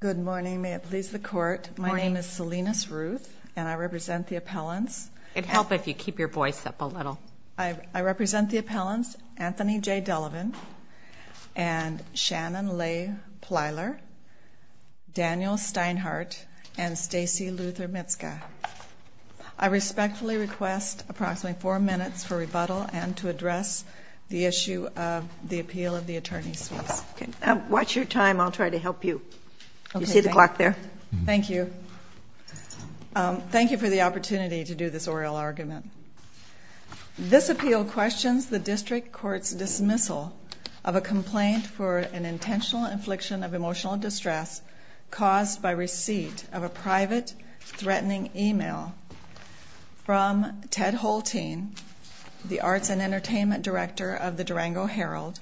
Good morning. May it please the court, my name is Salinas Ruth and I represent the appellants. It'd help if you keep your voice up a little. I represent the appellants Anthony J. Delevin and Shannon Leigh Plyler, Daniel Steinhardt and Stacey Luther Mitzka. I respectfully request approximately four minutes for rebuttal and to address the issue of the appeal of the attorney's fees. Okay now watch your time, I'll try to help you. You see the clock there? Thank you. Thank you for the opportunity to do this oral argument. This appeal questions the district courts dismissal of a complaint for an intentional infliction of emotional distress caused by receipt of a private threatening email from Ted Holteen, the Arts and Entertainment Director of the Durango Herald,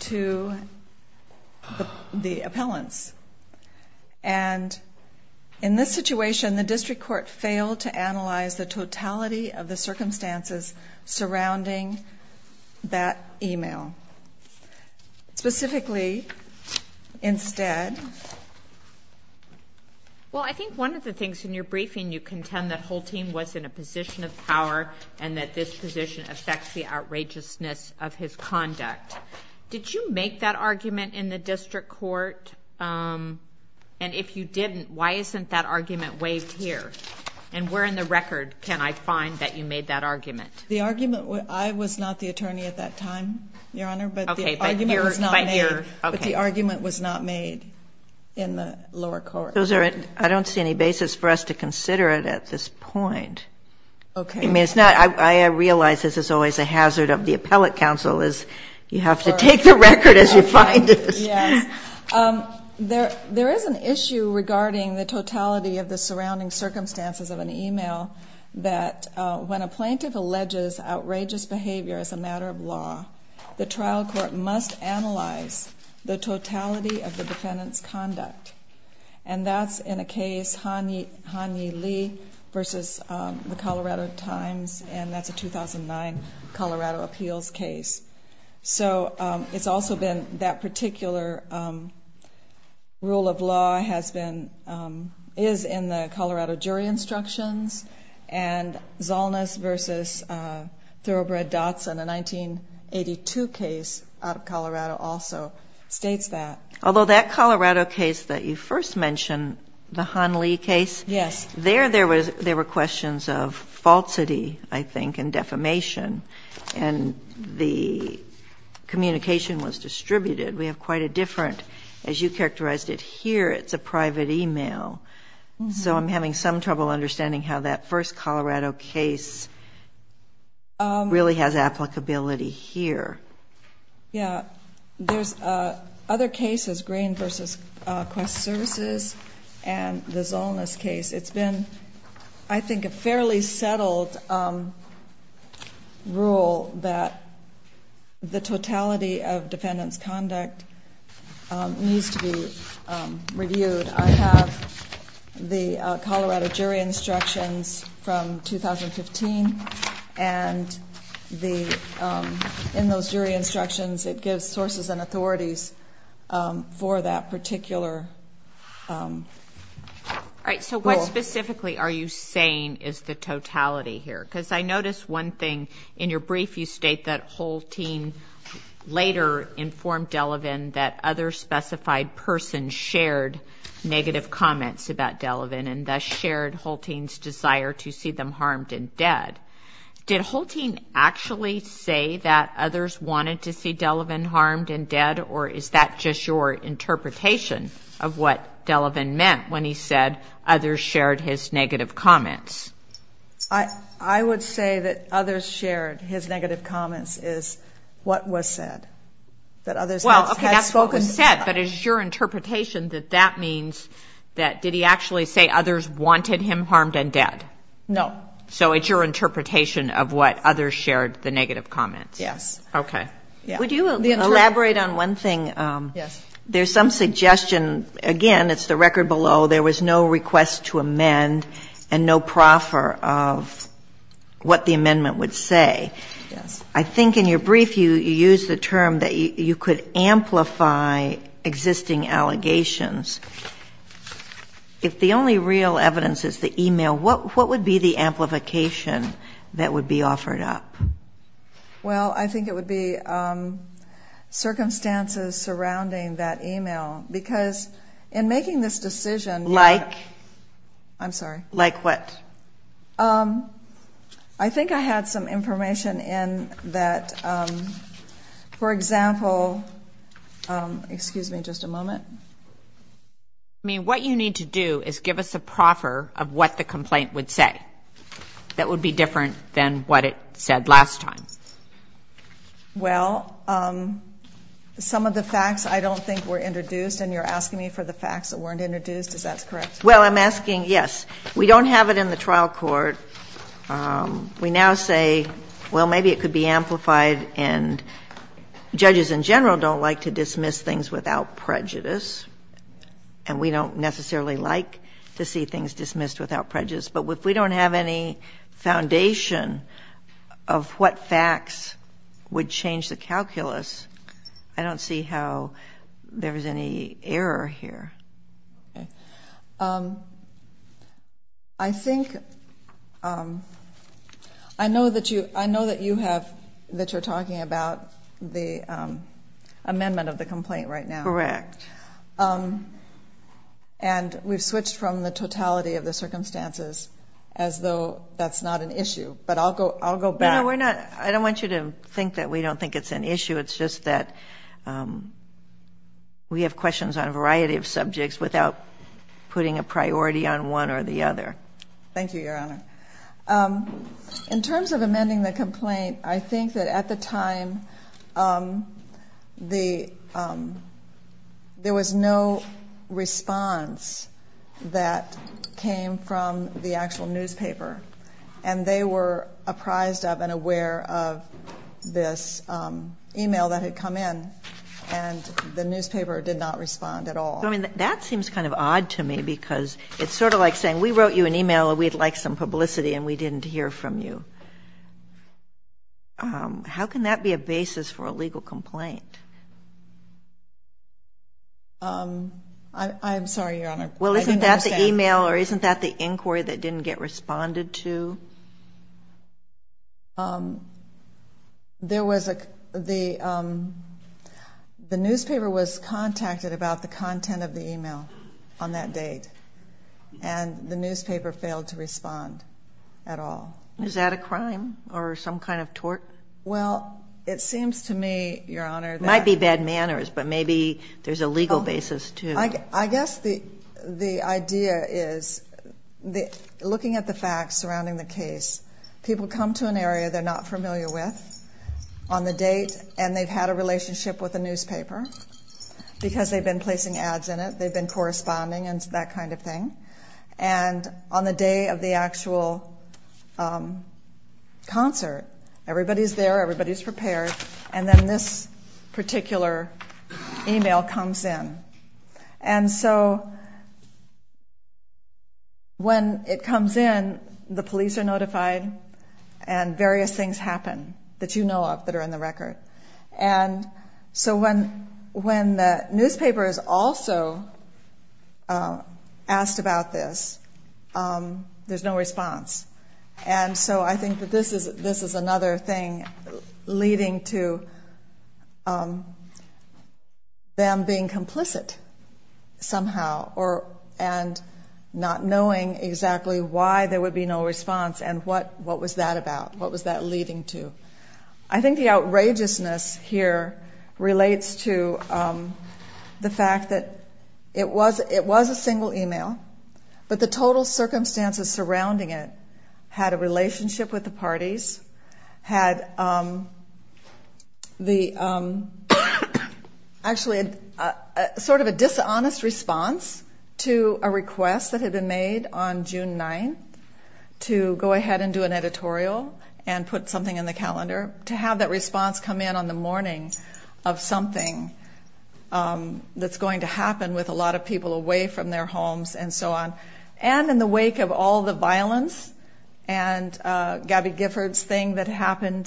to the appellants and in this situation the district court failed to analyze the totality of the circumstances surrounding that email. Specifically, instead, well I think one of the things in your briefing you contend that Holteen was in a position of power and that this position affects the argument in the district court and if you didn't, why isn't that argument waived here and where in the record can I find that you made that argument? The argument, I was not the attorney at that time, Your Honor, but the argument was not made in the lower court. I don't see any basis for us to consider it at this point. Okay. I mean it's not, I realize this is always a hazard of the appellate counsel is you have to take the record as you find it. Yes. There is an issue regarding the totality of the surrounding circumstances of an email that when a plaintiff alleges outrageous behavior as a matter of law, the trial court must analyze the totality of the defendant's conduct and that's in a case, Han-Yi Lee versus the Colorado Times and that's a 2009 Colorado appeals case. So it's also been that particular rule of law has been, is in the Colorado jury instructions and Zolnice versus Thoroughbred Dotson, a 1982 case out of Colorado also states that. Although that Colorado case that you first mentioned, the Han-Li case? Yes. There were questions of falsity, I think, and defamation and the communication was distributed. We have quite a different, as you characterized it here, it's a private email. So I'm having some trouble understanding how that first Colorado case really has applicability here. Yeah. There's other cases, Green versus Quest Services and the Zolnice case. It's been, I think, a fairly settled rule that the totality of defendant's conduct needs to be reviewed. I have the Colorado jury instructions from 2015 and the, in those resources and authorities for that particular rule. All right. So what specifically are you saying is the totality here? Because I noticed one thing in your brief, you state that Holtine later informed Delavan that other specified person shared negative comments about Delavan and thus shared Holtine's desire to see them harmed and dead, or is that just your interpretation of what Delavan meant when he said others shared his negative comments? I would say that others shared his negative comments is what was said. That others had spoken. Well, that's what was said, but is your interpretation that that means that, did he actually say others wanted him harmed and dead? No. So it's your interpretation of what others shared the negative comments? Yes. Okay. Would you elaborate on one thing? Yes. There's some suggestion, again, it's the record below, there was no request to amend and no proffer of what the amendment would say. Yes. I think in your brief you used the term that you could amplify existing allegations. If the only real evidence is the e-mail, what would be the amplification that would be offered up? Well, I think it would be circumstances surrounding that e-mail, because in making this decision... Like? I'm sorry. Like what? I think I had some information in that, for example, excuse me just a moment. I mean, what you need to do is give us a proffer of what the e-mail said that would be different than what it said last time. Well, some of the facts I don't think were introduced, and you're asking me for the facts that weren't introduced. Is that correct? Well, I'm asking, yes. We don't have it in the trial court. We now say, well, maybe it could be amplified, and judges in general don't like to dismiss things without prejudice, and we don't necessarily like to see things have any foundation of what facts would change the calculus. I don't see how there was any error here. I think... I know that you have... that you're talking about the amendment of the complaint right now. Correct. And we've the totality of the circumstances as though that's not an issue, but I'll go back. No, we're not... I don't want you to think that we don't think it's an issue. It's just that we have questions on a variety of subjects without putting a priority on one or the other. Thank you, Your Honor. In terms of amending the complaint, I think that at the time the... there was no response that came from the actual newspaper, and they were apprised of and aware of this email that had come in, and the newspaper did not respond at all. I mean, that seems kind of odd to me because it's sort of like saying we wrote you an email and we'd like some publicity and we didn't hear from you. How can that be a basis for a legal complaint? I'm sorry, Your Honor. Well, isn't that the email or isn't that the inquiry that didn't get responded to? There was a... the newspaper was contacted about the content of the email on that date, and the newspaper failed to respond at all. Is that a crime or some kind of tort? Well, it seems to me, Your Honor, that... Might be bad manners, but maybe there's a legal basis to... I guess the idea is looking at the facts surrounding the case, people come to an area they're not familiar with on the date, and they've had a relationship with the newspaper because they've been placing ads in it, they've been corresponding and that kind of thing, and on the day of the actual concert, everybody's there, everybody's prepared, and then this particular email comes in. And so when it comes in, the police are notified and various things happen that you know of that are in the record. And so when the newspaper is also asked about this, there's no response. And so I think that this is another thing leading to them being complicit somehow, and not knowing exactly why there would be no response and what was that about, what was that leading to? I think the outrageousness here relates to the fact that it was a single email, but the total circumstances surrounding it had a relationship with the parties, had the... Actually, sort of a dishonest response to a request that had been made on June 9th to go ahead and do an editorial and put something in the calendar, to have that response come in on the morning of something that's going to happen with a lot of people away from their homes and so on, and in the wake of all the violence and Gabby Gifford's thing that happened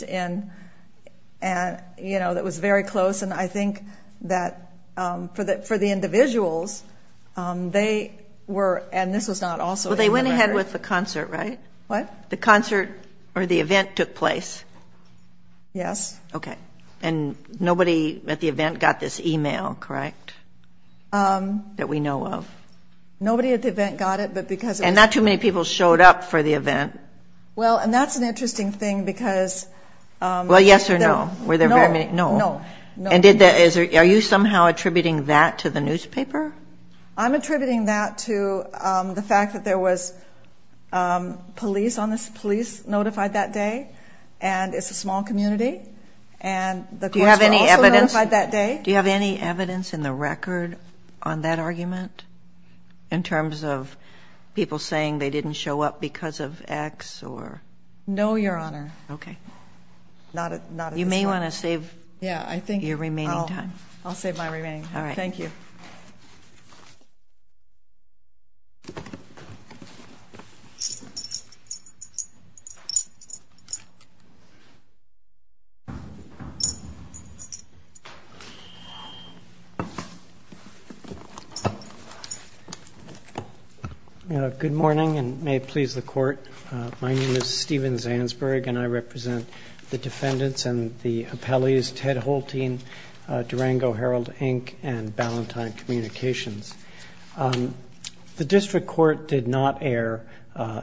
that was very close, and I think that for the individuals, they were... And this was not also... Well, they went ahead with the concert, right? What? The concert or the event took place. Yes. Okay. And nobody at the event got this email, correct, that we know of? Nobody at the event got it, but because... And not too many people showed up for the event. Well, and that's an interesting thing because... Well, yes or no? No. And are you somehow attributing that to the newspaper? I'm attributing that to the fact that there was police on this, police notified that day, and it's a small community, and the courts were also notified that day. Do you have any evidence in the record on that argument in terms of people saying they didn't show up because of X or... No, Your Honor. Okay. Not at this point. You may wanna save your remaining time. Yeah, I think I'll save my remaining time. All right. Thank you. Good morning, and may it please the court. My name is Stephen Zansberg, and I represent the defendants and the appellees, Ted Holtein, Durango Herald, Inc., and Ballantyne Communications. The district court did not err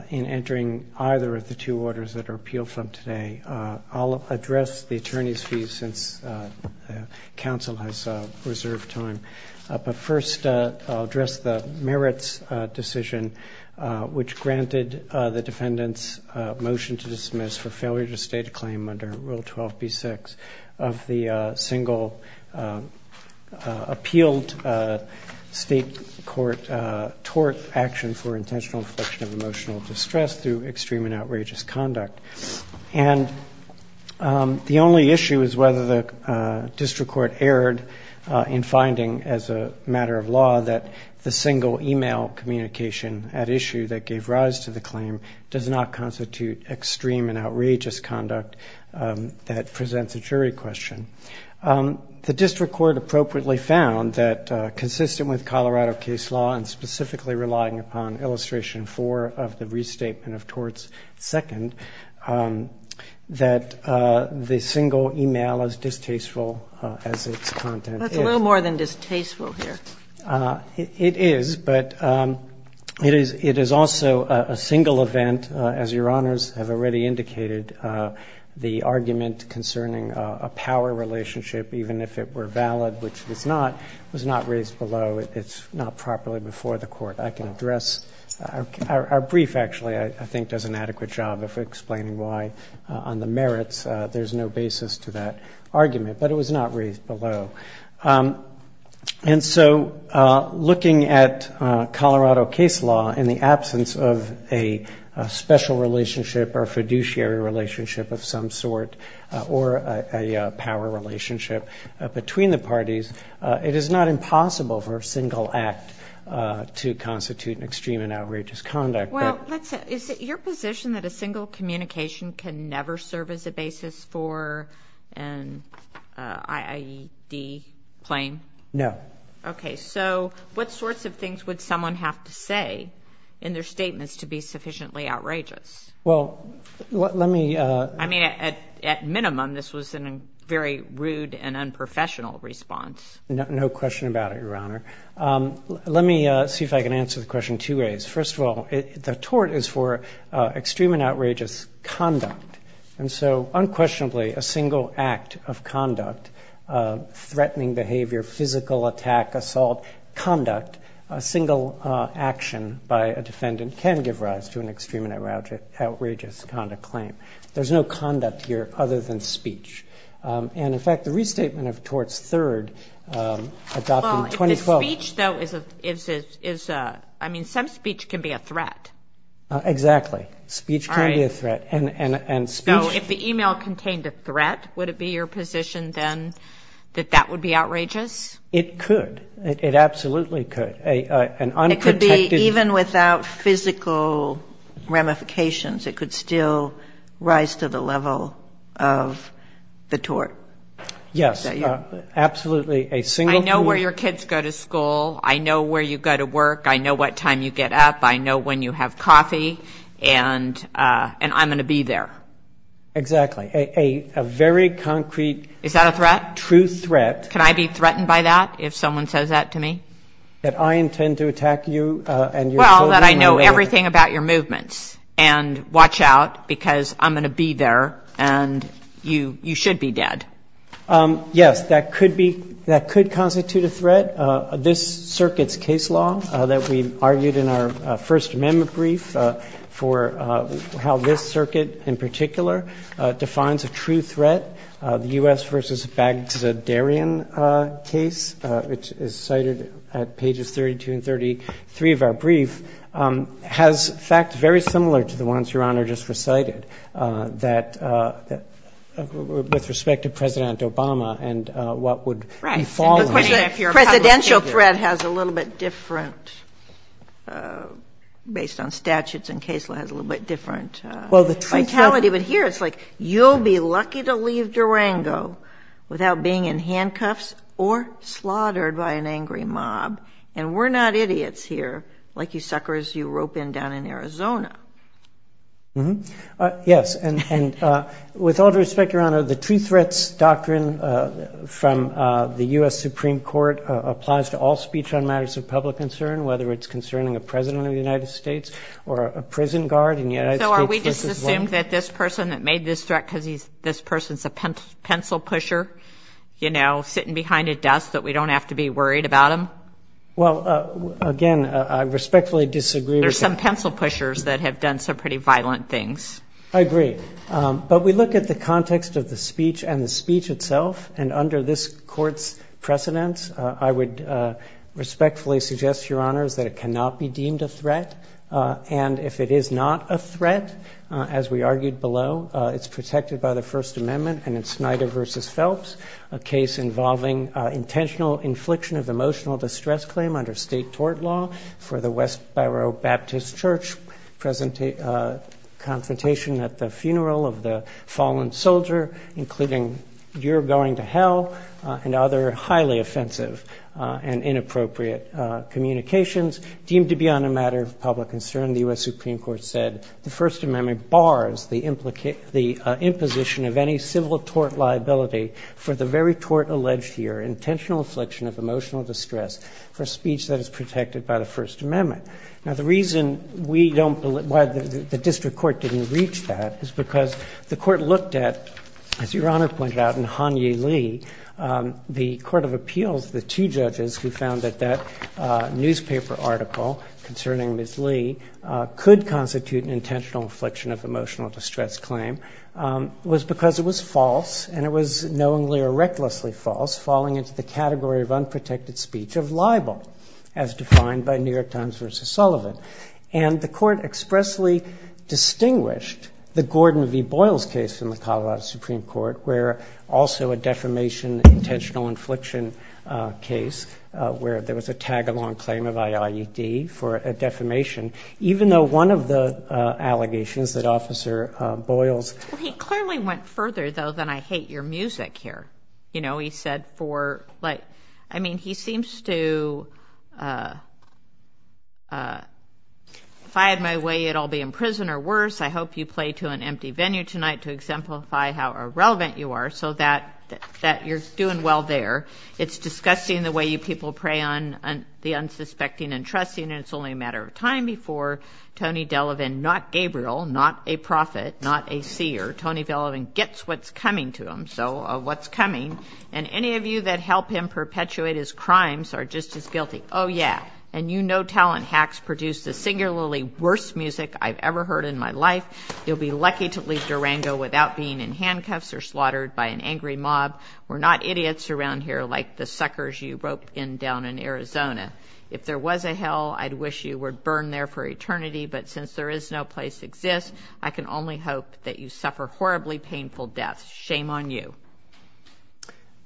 in entering either of the two orders that are appealed from today. I'll address the attorney's fees since counsel has reserved time. But first, I'll address the merits decision, which granted the defendants' motion to dismiss for failure to state a claim under Rule 12b6 of the single appealed state court tort action for intentional infliction of emotional distress through extreme and outrageous conduct. And the only issue is whether the district court erred in finding, as a matter of law, that the single email communication at issue that gave rise to the claim does not constitute extreme and outrageous conduct. That presents a jury question. The district court appropriately found that, consistent with Colorado case law and specifically relying upon illustration four of the restatement of torts second, that the single email is distasteful as its content. That's a little more than distasteful here. It is, but it is also a single event. As your honors have already indicated, the argument concerning a power relationship, even if it were valid, which it's not, was not raised below. It's not properly before the court. I can address our brief, actually, I think does an adequate job of explaining why on the merits there's no basis to that argument. But it was not raised below. And so looking at Colorado case law in the absence of a special relationship or fiduciary relationship of some sort or a power relationship between the parties, it is not impossible for a single act to constitute an extreme and outrageous conduct. Is it your position that a single communication can never serve as a basis for an IED claim? No. Okay. So what sorts of things would someone have to say in their statements to be sufficiently outrageous? Well, let me... I mean, at minimum, this was a very rude and unprofessional response. No question about it, your honor. Let me see if I can answer the question two ways. First of all, the tort is for extreme and outrageous conduct. And so unquestionably, a single act of conduct, threatening behavior, physical attack, assault, conduct, a single action by a defendant can give rise to an extreme and outrageous conduct claim. There's no conduct here other than speech. And in fact, the restatement of tort's third adopted in 2012... Well, if the speech, though, is a... I mean, some speech can be a threat. Exactly. Speech can be a threat. And speech... So if the email contained a threat, would it be your position then that that would be outrageous? It could. It absolutely could. An unprotected... Yes. Absolutely. A single... I know where your kids go to school. I know where you go to work. I know what time you get up. I know when you have coffee. And I'm going to be there. Exactly. A very concrete... Is that a threat? ...true threat... Can I be threatened by that, if someone says that to me? ...that I intend to attack you and your children... Yes. ...and watch out because I'm going to be there and you should be dead. Yes. That could be... That could constitute a threat. This circuit's case law that we argued in our First Amendment brief for how this circuit in particular defines a true threat, the U.S. v. Baghdadarian case, which is cited at pages 32 and 33 of our brief, has facts very similar to the ones Your Honor just recited with respect to President Obama and what would befall him. Right. And of course, a presidential threat has a little bit different, based on statutes and case law, has a little bit different vitality. But here it's like, you'll be lucky to leave Durango without being in handcuffs or slaughtered by an angry mob. And we're not idiots here, like you suckers you rope in down in Arizona. Mm-hmm. Yes. And with all due respect, Your Honor, the true threats doctrine from the U.S. Supreme Court applies to all speech on matters of public concern, whether it's concerning a President of the United States or a prison guard in the United States... So are we just assuming that this person that made this threat because this person's a pencil pusher, you know, sitting behind a desk, that we don't have to be worried about him? Well, again, I respectfully disagree with that. There's some pencil pushers that have done some pretty violent things. I agree. But we look at the context of the speech and the speech itself, and under this Court's precedence, I would respectfully suggest, Your Honors, that it cannot be deemed a threat. And if it is not a threat, as we argued below, it's protected by the First Amendment and Snyder v. Phelps, a case involving intentional infliction of emotional distress claim under state tort law for the Westboro Baptist Church, confrontation at the funeral of the fallen soldier, including you're going to hell, and other highly offensive and inappropriate communications deemed to be on a matter of public concern. And the U.S. Supreme Court said the First Amendment bars the imposition of any civil tort liability for the very tort alleged here, intentional infliction of emotional distress for speech that is protected by the First Amendment. Now, the reason we don't, why the district court didn't reach that is because the court looked at, as Your Honor pointed out, in Hanyi Lee, the court of appeals, the two judges who found that that newspaper article concerning Ms. Lee could constitute an intentional infliction of emotional distress claim, was because it was false, and it was knowingly or recklessly false, falling into the category of unprotected speech of libel, as defined by New York Times v. Sullivan. And the court expressly distinguished the Gordon v. Boyles case from the Colorado Supreme Court, where also a defamation, intentional infliction case, where there was a tag-along claim of I.I.E.D. for a defamation, even though one of the allegations that Officer Boyles... Well, he clearly went further, though, than I hate your music here. You know, he said for, like, I mean, he seems to, if I had my way, I'd all be in prison or worse. I hope you play to an empty venue tonight to exemplify how irrelevant you are, so that you're doing well there. It's disgusting the way you people prey on the unsuspecting and trusting, and it's only a matter of time before Tony Delavan, not Gabriel, not a prophet, not a seer, Tony Delavan gets what's coming to him, so what's coming. And any of you that help him perpetuate his crimes are just as guilty. Oh, yeah. And you know Talent Hacks produce the singularly worst music I've ever heard in my life. You'll be lucky to leave Durango without being in handcuffs or slaughtered by an angry mob. We're not idiots around here like the suckers you rope in down in Arizona. If there was a hell, I'd wish you would burn there for eternity, but since there is no place exists, I can only hope that you suffer horribly painful deaths. Shame on you.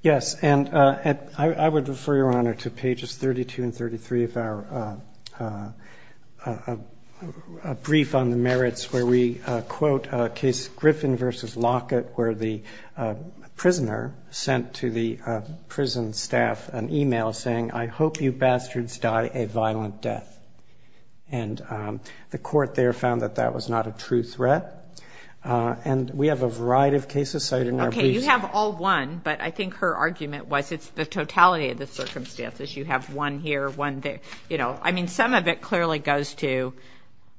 Yes, and I would refer, Your Honor, to pages 32 and 33 of our brief on the merits where we quote a case, Griffin v. Lockett, where the prisoner sent to the prison staff an email saying, I hope you bastards die a violent death. And the court there found that that was not a true threat. And we have a variety of cases cited in our briefs. Okay. You have all one, but I think her argument was it's the totality of the circumstances. You have one here, one there. You know, I mean, some of it clearly goes to,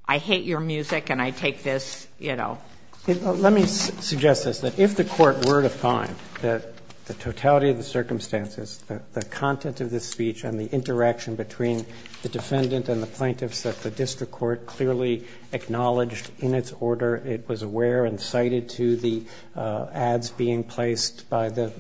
I hate your music and I take this, you know. Let me suggest this, that if the court were to find that the totality of the circumstances, the content of the speech and the interaction between the defendant and the plaintiffs that the district court clearly acknowledged in its order, it was aware and cited to the ads being placed by the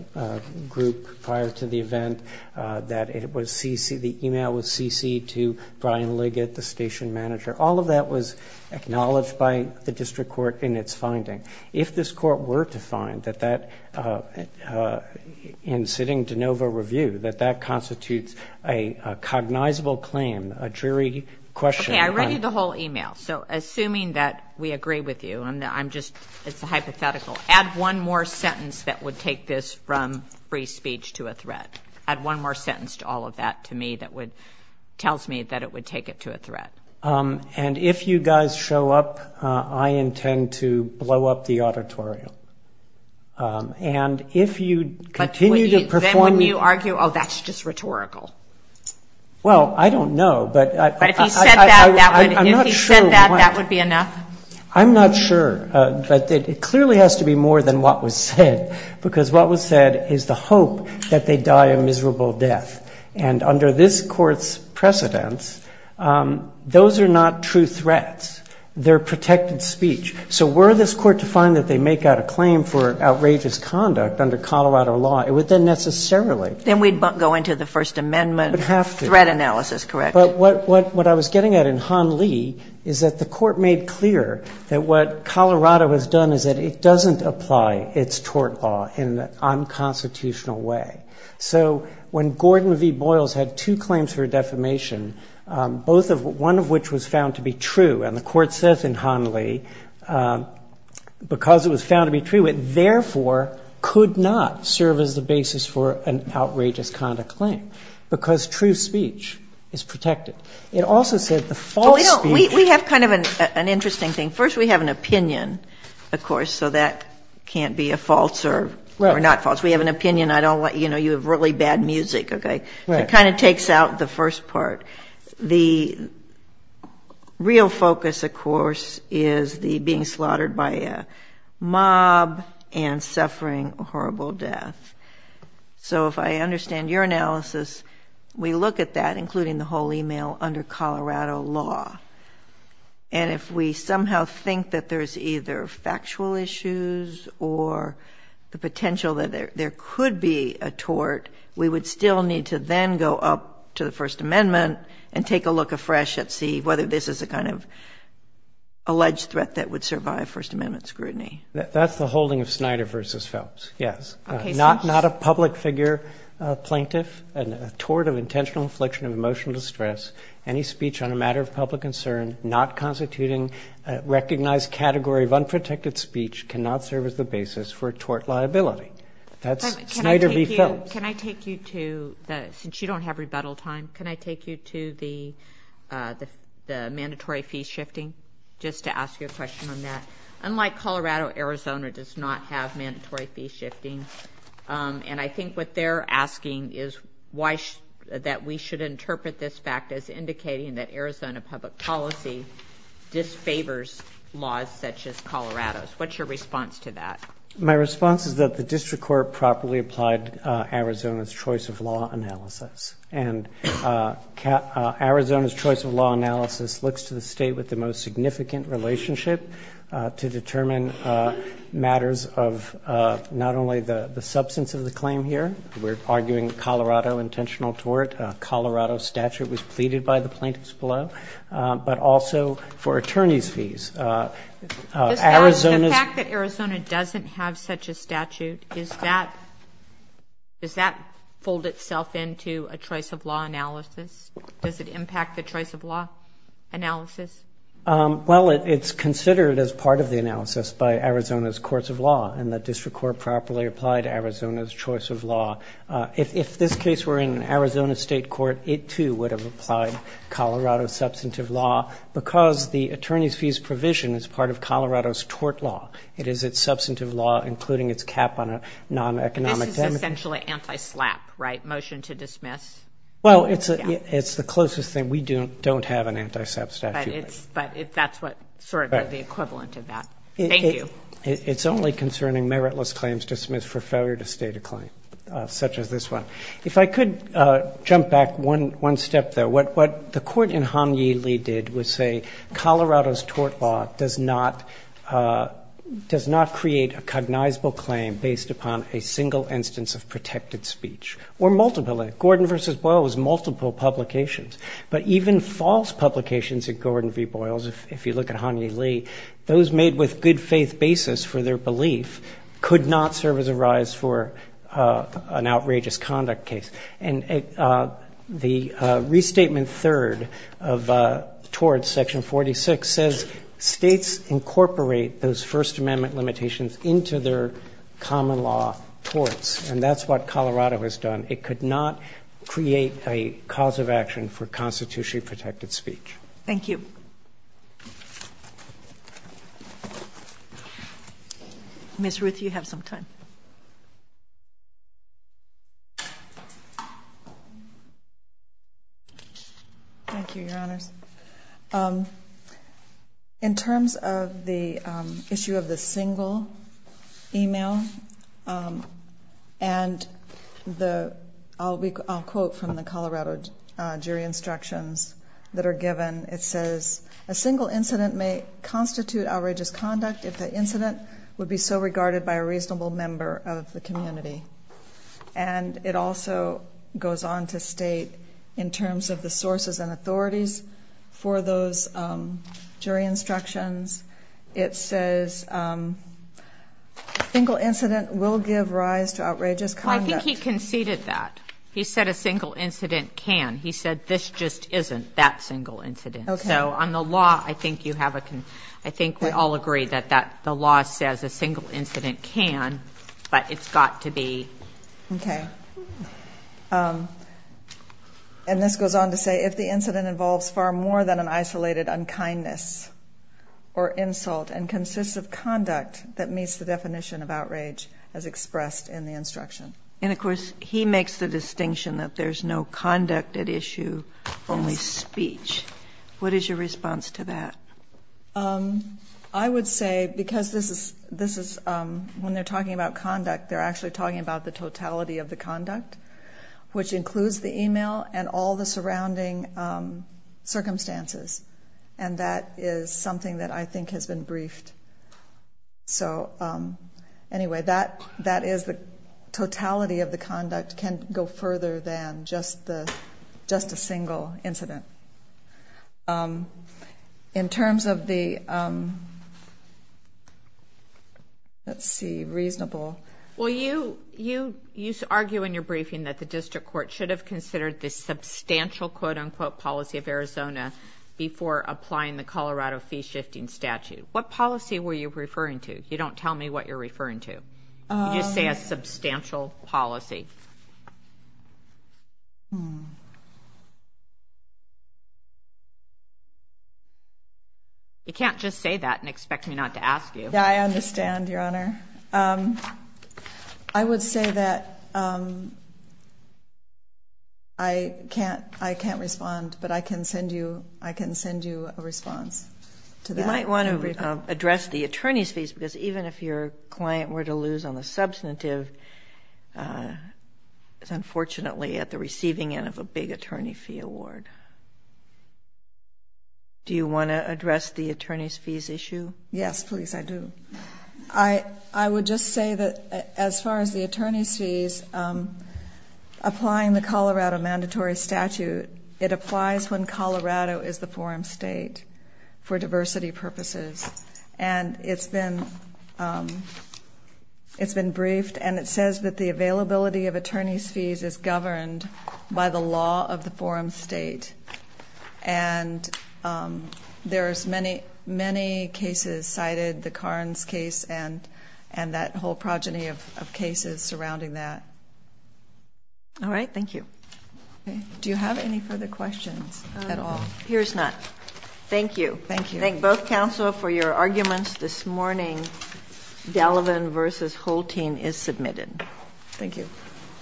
group prior to the event, that it was CC, the email was CC to Brian Liggett, the station manager. All of that was acknowledged by the district court in its finding. If this court were to find that that, in sitting de novo review, that that constitutes a cognizable claim, a jury question. Okay. I read you the whole email. So assuming that we agree with you and I'm just, it's a hypothetical, add one more sentence that would take this from free speech to a threat. Add one more sentence to all of that to me that would, tells me that it would take it to a threat. And if you guys show up, I intend to blow up the auditorium. And if you continue to perform. Then wouldn't you argue, oh, that's just rhetorical? Well, I don't know, but I'm not sure that that would be enough. I'm not sure. But it clearly has to be more than what was said, because what was said is the hope that they die a miserable death. And under this court's precedence, those are not true threats. They're protected speech. So were this court to find that they make out a claim for outrageous conduct under Colorado law, it would then necessarily. Then we'd go into the First Amendment. It would have to. Threat analysis, correct. But what I was getting at in Han Lee is that the court made clear that what Colorado has done is that it doesn't apply its tort law in an unconstitutional way. So when Gordon V. Boyles had two claims for defamation, both of, one of which was found to be true, and the court says in Han Lee, because it was found to be true, it therefore could not serve as the basis for an outrageous conduct claim, because true speech is protected. It also said the false speech. We have kind of an interesting thing. First, we have an opinion, of course, so that can't be a false or not false. We have an opinion. I don't want, you know, you have really bad music, okay? Right. It kind of takes out the first part. The real focus, of course, is the being slaughtered by a mob and suffering horrible death. So if I understand your analysis, we look at that, including the whole email, under Colorado law. And if we somehow think that there's either factual issues or the potential that there are, and take a look afresh and see whether this is a kind of alleged threat that would survive First Amendment scrutiny. That's the holding of Snyder v. Phelps, yes. Okay. Not a public figure plaintiff, a tort of intentional affliction of emotional distress, any speech on a matter of public concern not constituting a recognized category of unprotected speech cannot serve as the basis for a tort liability. That's Snyder v. Phelps. Can I take you to the, since you don't have rebuttal time, can I take you to the mandatory fee shifting, just to ask you a question on that? Unlike Colorado, Arizona does not have mandatory fee shifting. And I think what they're asking is why, that we should interpret this fact as indicating that Arizona public policy disfavors laws such as Colorado's. What's your response to that? My response is that the district court properly applied Arizona's choice of law analysis. And Arizona's choice of law analysis looks to the state with the most significant relationship to determine matters of not only the substance of the claim here, we're arguing Colorado intentional tort, Colorado statute was pleaded by the plaintiffs below, but also for attorney's fees. The fact that Arizona doesn't have such a statute, does that fold itself into a choice of law analysis? Does it impact the choice of law analysis? Well, it's considered as part of the analysis by Arizona's courts of law, and the district court properly applied Arizona's choice of law. If this case were in Arizona state court, it too would have applied Colorado's substantive law, because the attorney's fees provision is part of Colorado's tort law. It is its substantive law, including its cap on non-economic damages. This is essentially anti-SLAPP, right, motion to dismiss? Well, it's the closest thing. We don't have an anti-SLAPP statute. But that's sort of the equivalent of that. Thank you. It's only concerning meritless claims dismissed for failure to state a claim, such as this one. If I could jump back one step there. What the court in Hanyee Lee did was say Colorado's tort law does not create a cognizable claim based upon a single instance of protected speech, or multiple. Gordon v. Boyle was multiple publications. But even false publications at Gordon v. Boyle's, if you look at Hanyee Lee, those made with good faith basis for their belief could not serve as a rise for an outrageous conduct case. And the restatement third of torts, Section 46, says states incorporate those First Amendment limitations into their common law torts. And that's what Colorado has done. It could not create a cause of action for constitutionally protected speech. Thank you. Ms. Ruth, you have some time. Thank you, Your Honors. In terms of the issue of the single email, and I'll quote from the Colorado jury instructions that are given. It says, a single incident may constitute outrageous conduct if the incident would be so regarded by a reasonable member of the community. And it also goes on to state, in terms of the sources and authorities for those jury instructions, it says a single incident will give rise to outrageous conduct. I think he conceded that. He said a single incident can. He said this just isn't that single incident. So on the law, I think we all agree that the law says a single incident can, but it's got to be. Okay. And this goes on to say, if the incident involves far more than an isolated unkindness or insult and consists of conduct that meets the definition of outrage as expressed in the instruction. And, of course, he makes the distinction that there's no conduct at issue, only speech. What is your response to that? I would say, because this is, when they're talking about conduct, they're actually talking about the totality of the conduct, which includes the email and all the surrounding circumstances. And that is something that I think has been briefed. So, anyway, that is the totality of the conduct can go further than just a single incident. In terms of the, let's see, reasonable. Well, you argue in your briefing that the district court should have considered this substantial, quote-unquote, policy of Arizona before applying the Colorado fee-shifting statute. What policy were you referring to? You don't tell me what you're referring to. You just say a substantial policy. You can't just say that and expect me not to ask you. Yeah, I understand, Your Honor. I would say that I can't respond, but I can send you a response to that. I might want to address the attorney's fees, because even if your client were to lose on the substantive, it's unfortunately at the receiving end of a big attorney fee award. Do you want to address the attorney's fees issue? Yes, please, I do. I would just say that as far as the attorney's fees, applying the Colorado mandatory statute, it applies when Colorado is the forum state for diversity purposes. And it's been briefed, and it says that the availability of attorney's fees is governed by the law of the forum state. And there's many, many cases cited, the Carnes case, and that whole progeny of cases surrounding that. All right, thank you. Do you have any further questions at all? Appears not. Thank you. Thank you. Thank both counsel for your arguments this morning. Gallivan v. Holtein is submitted. Thank you.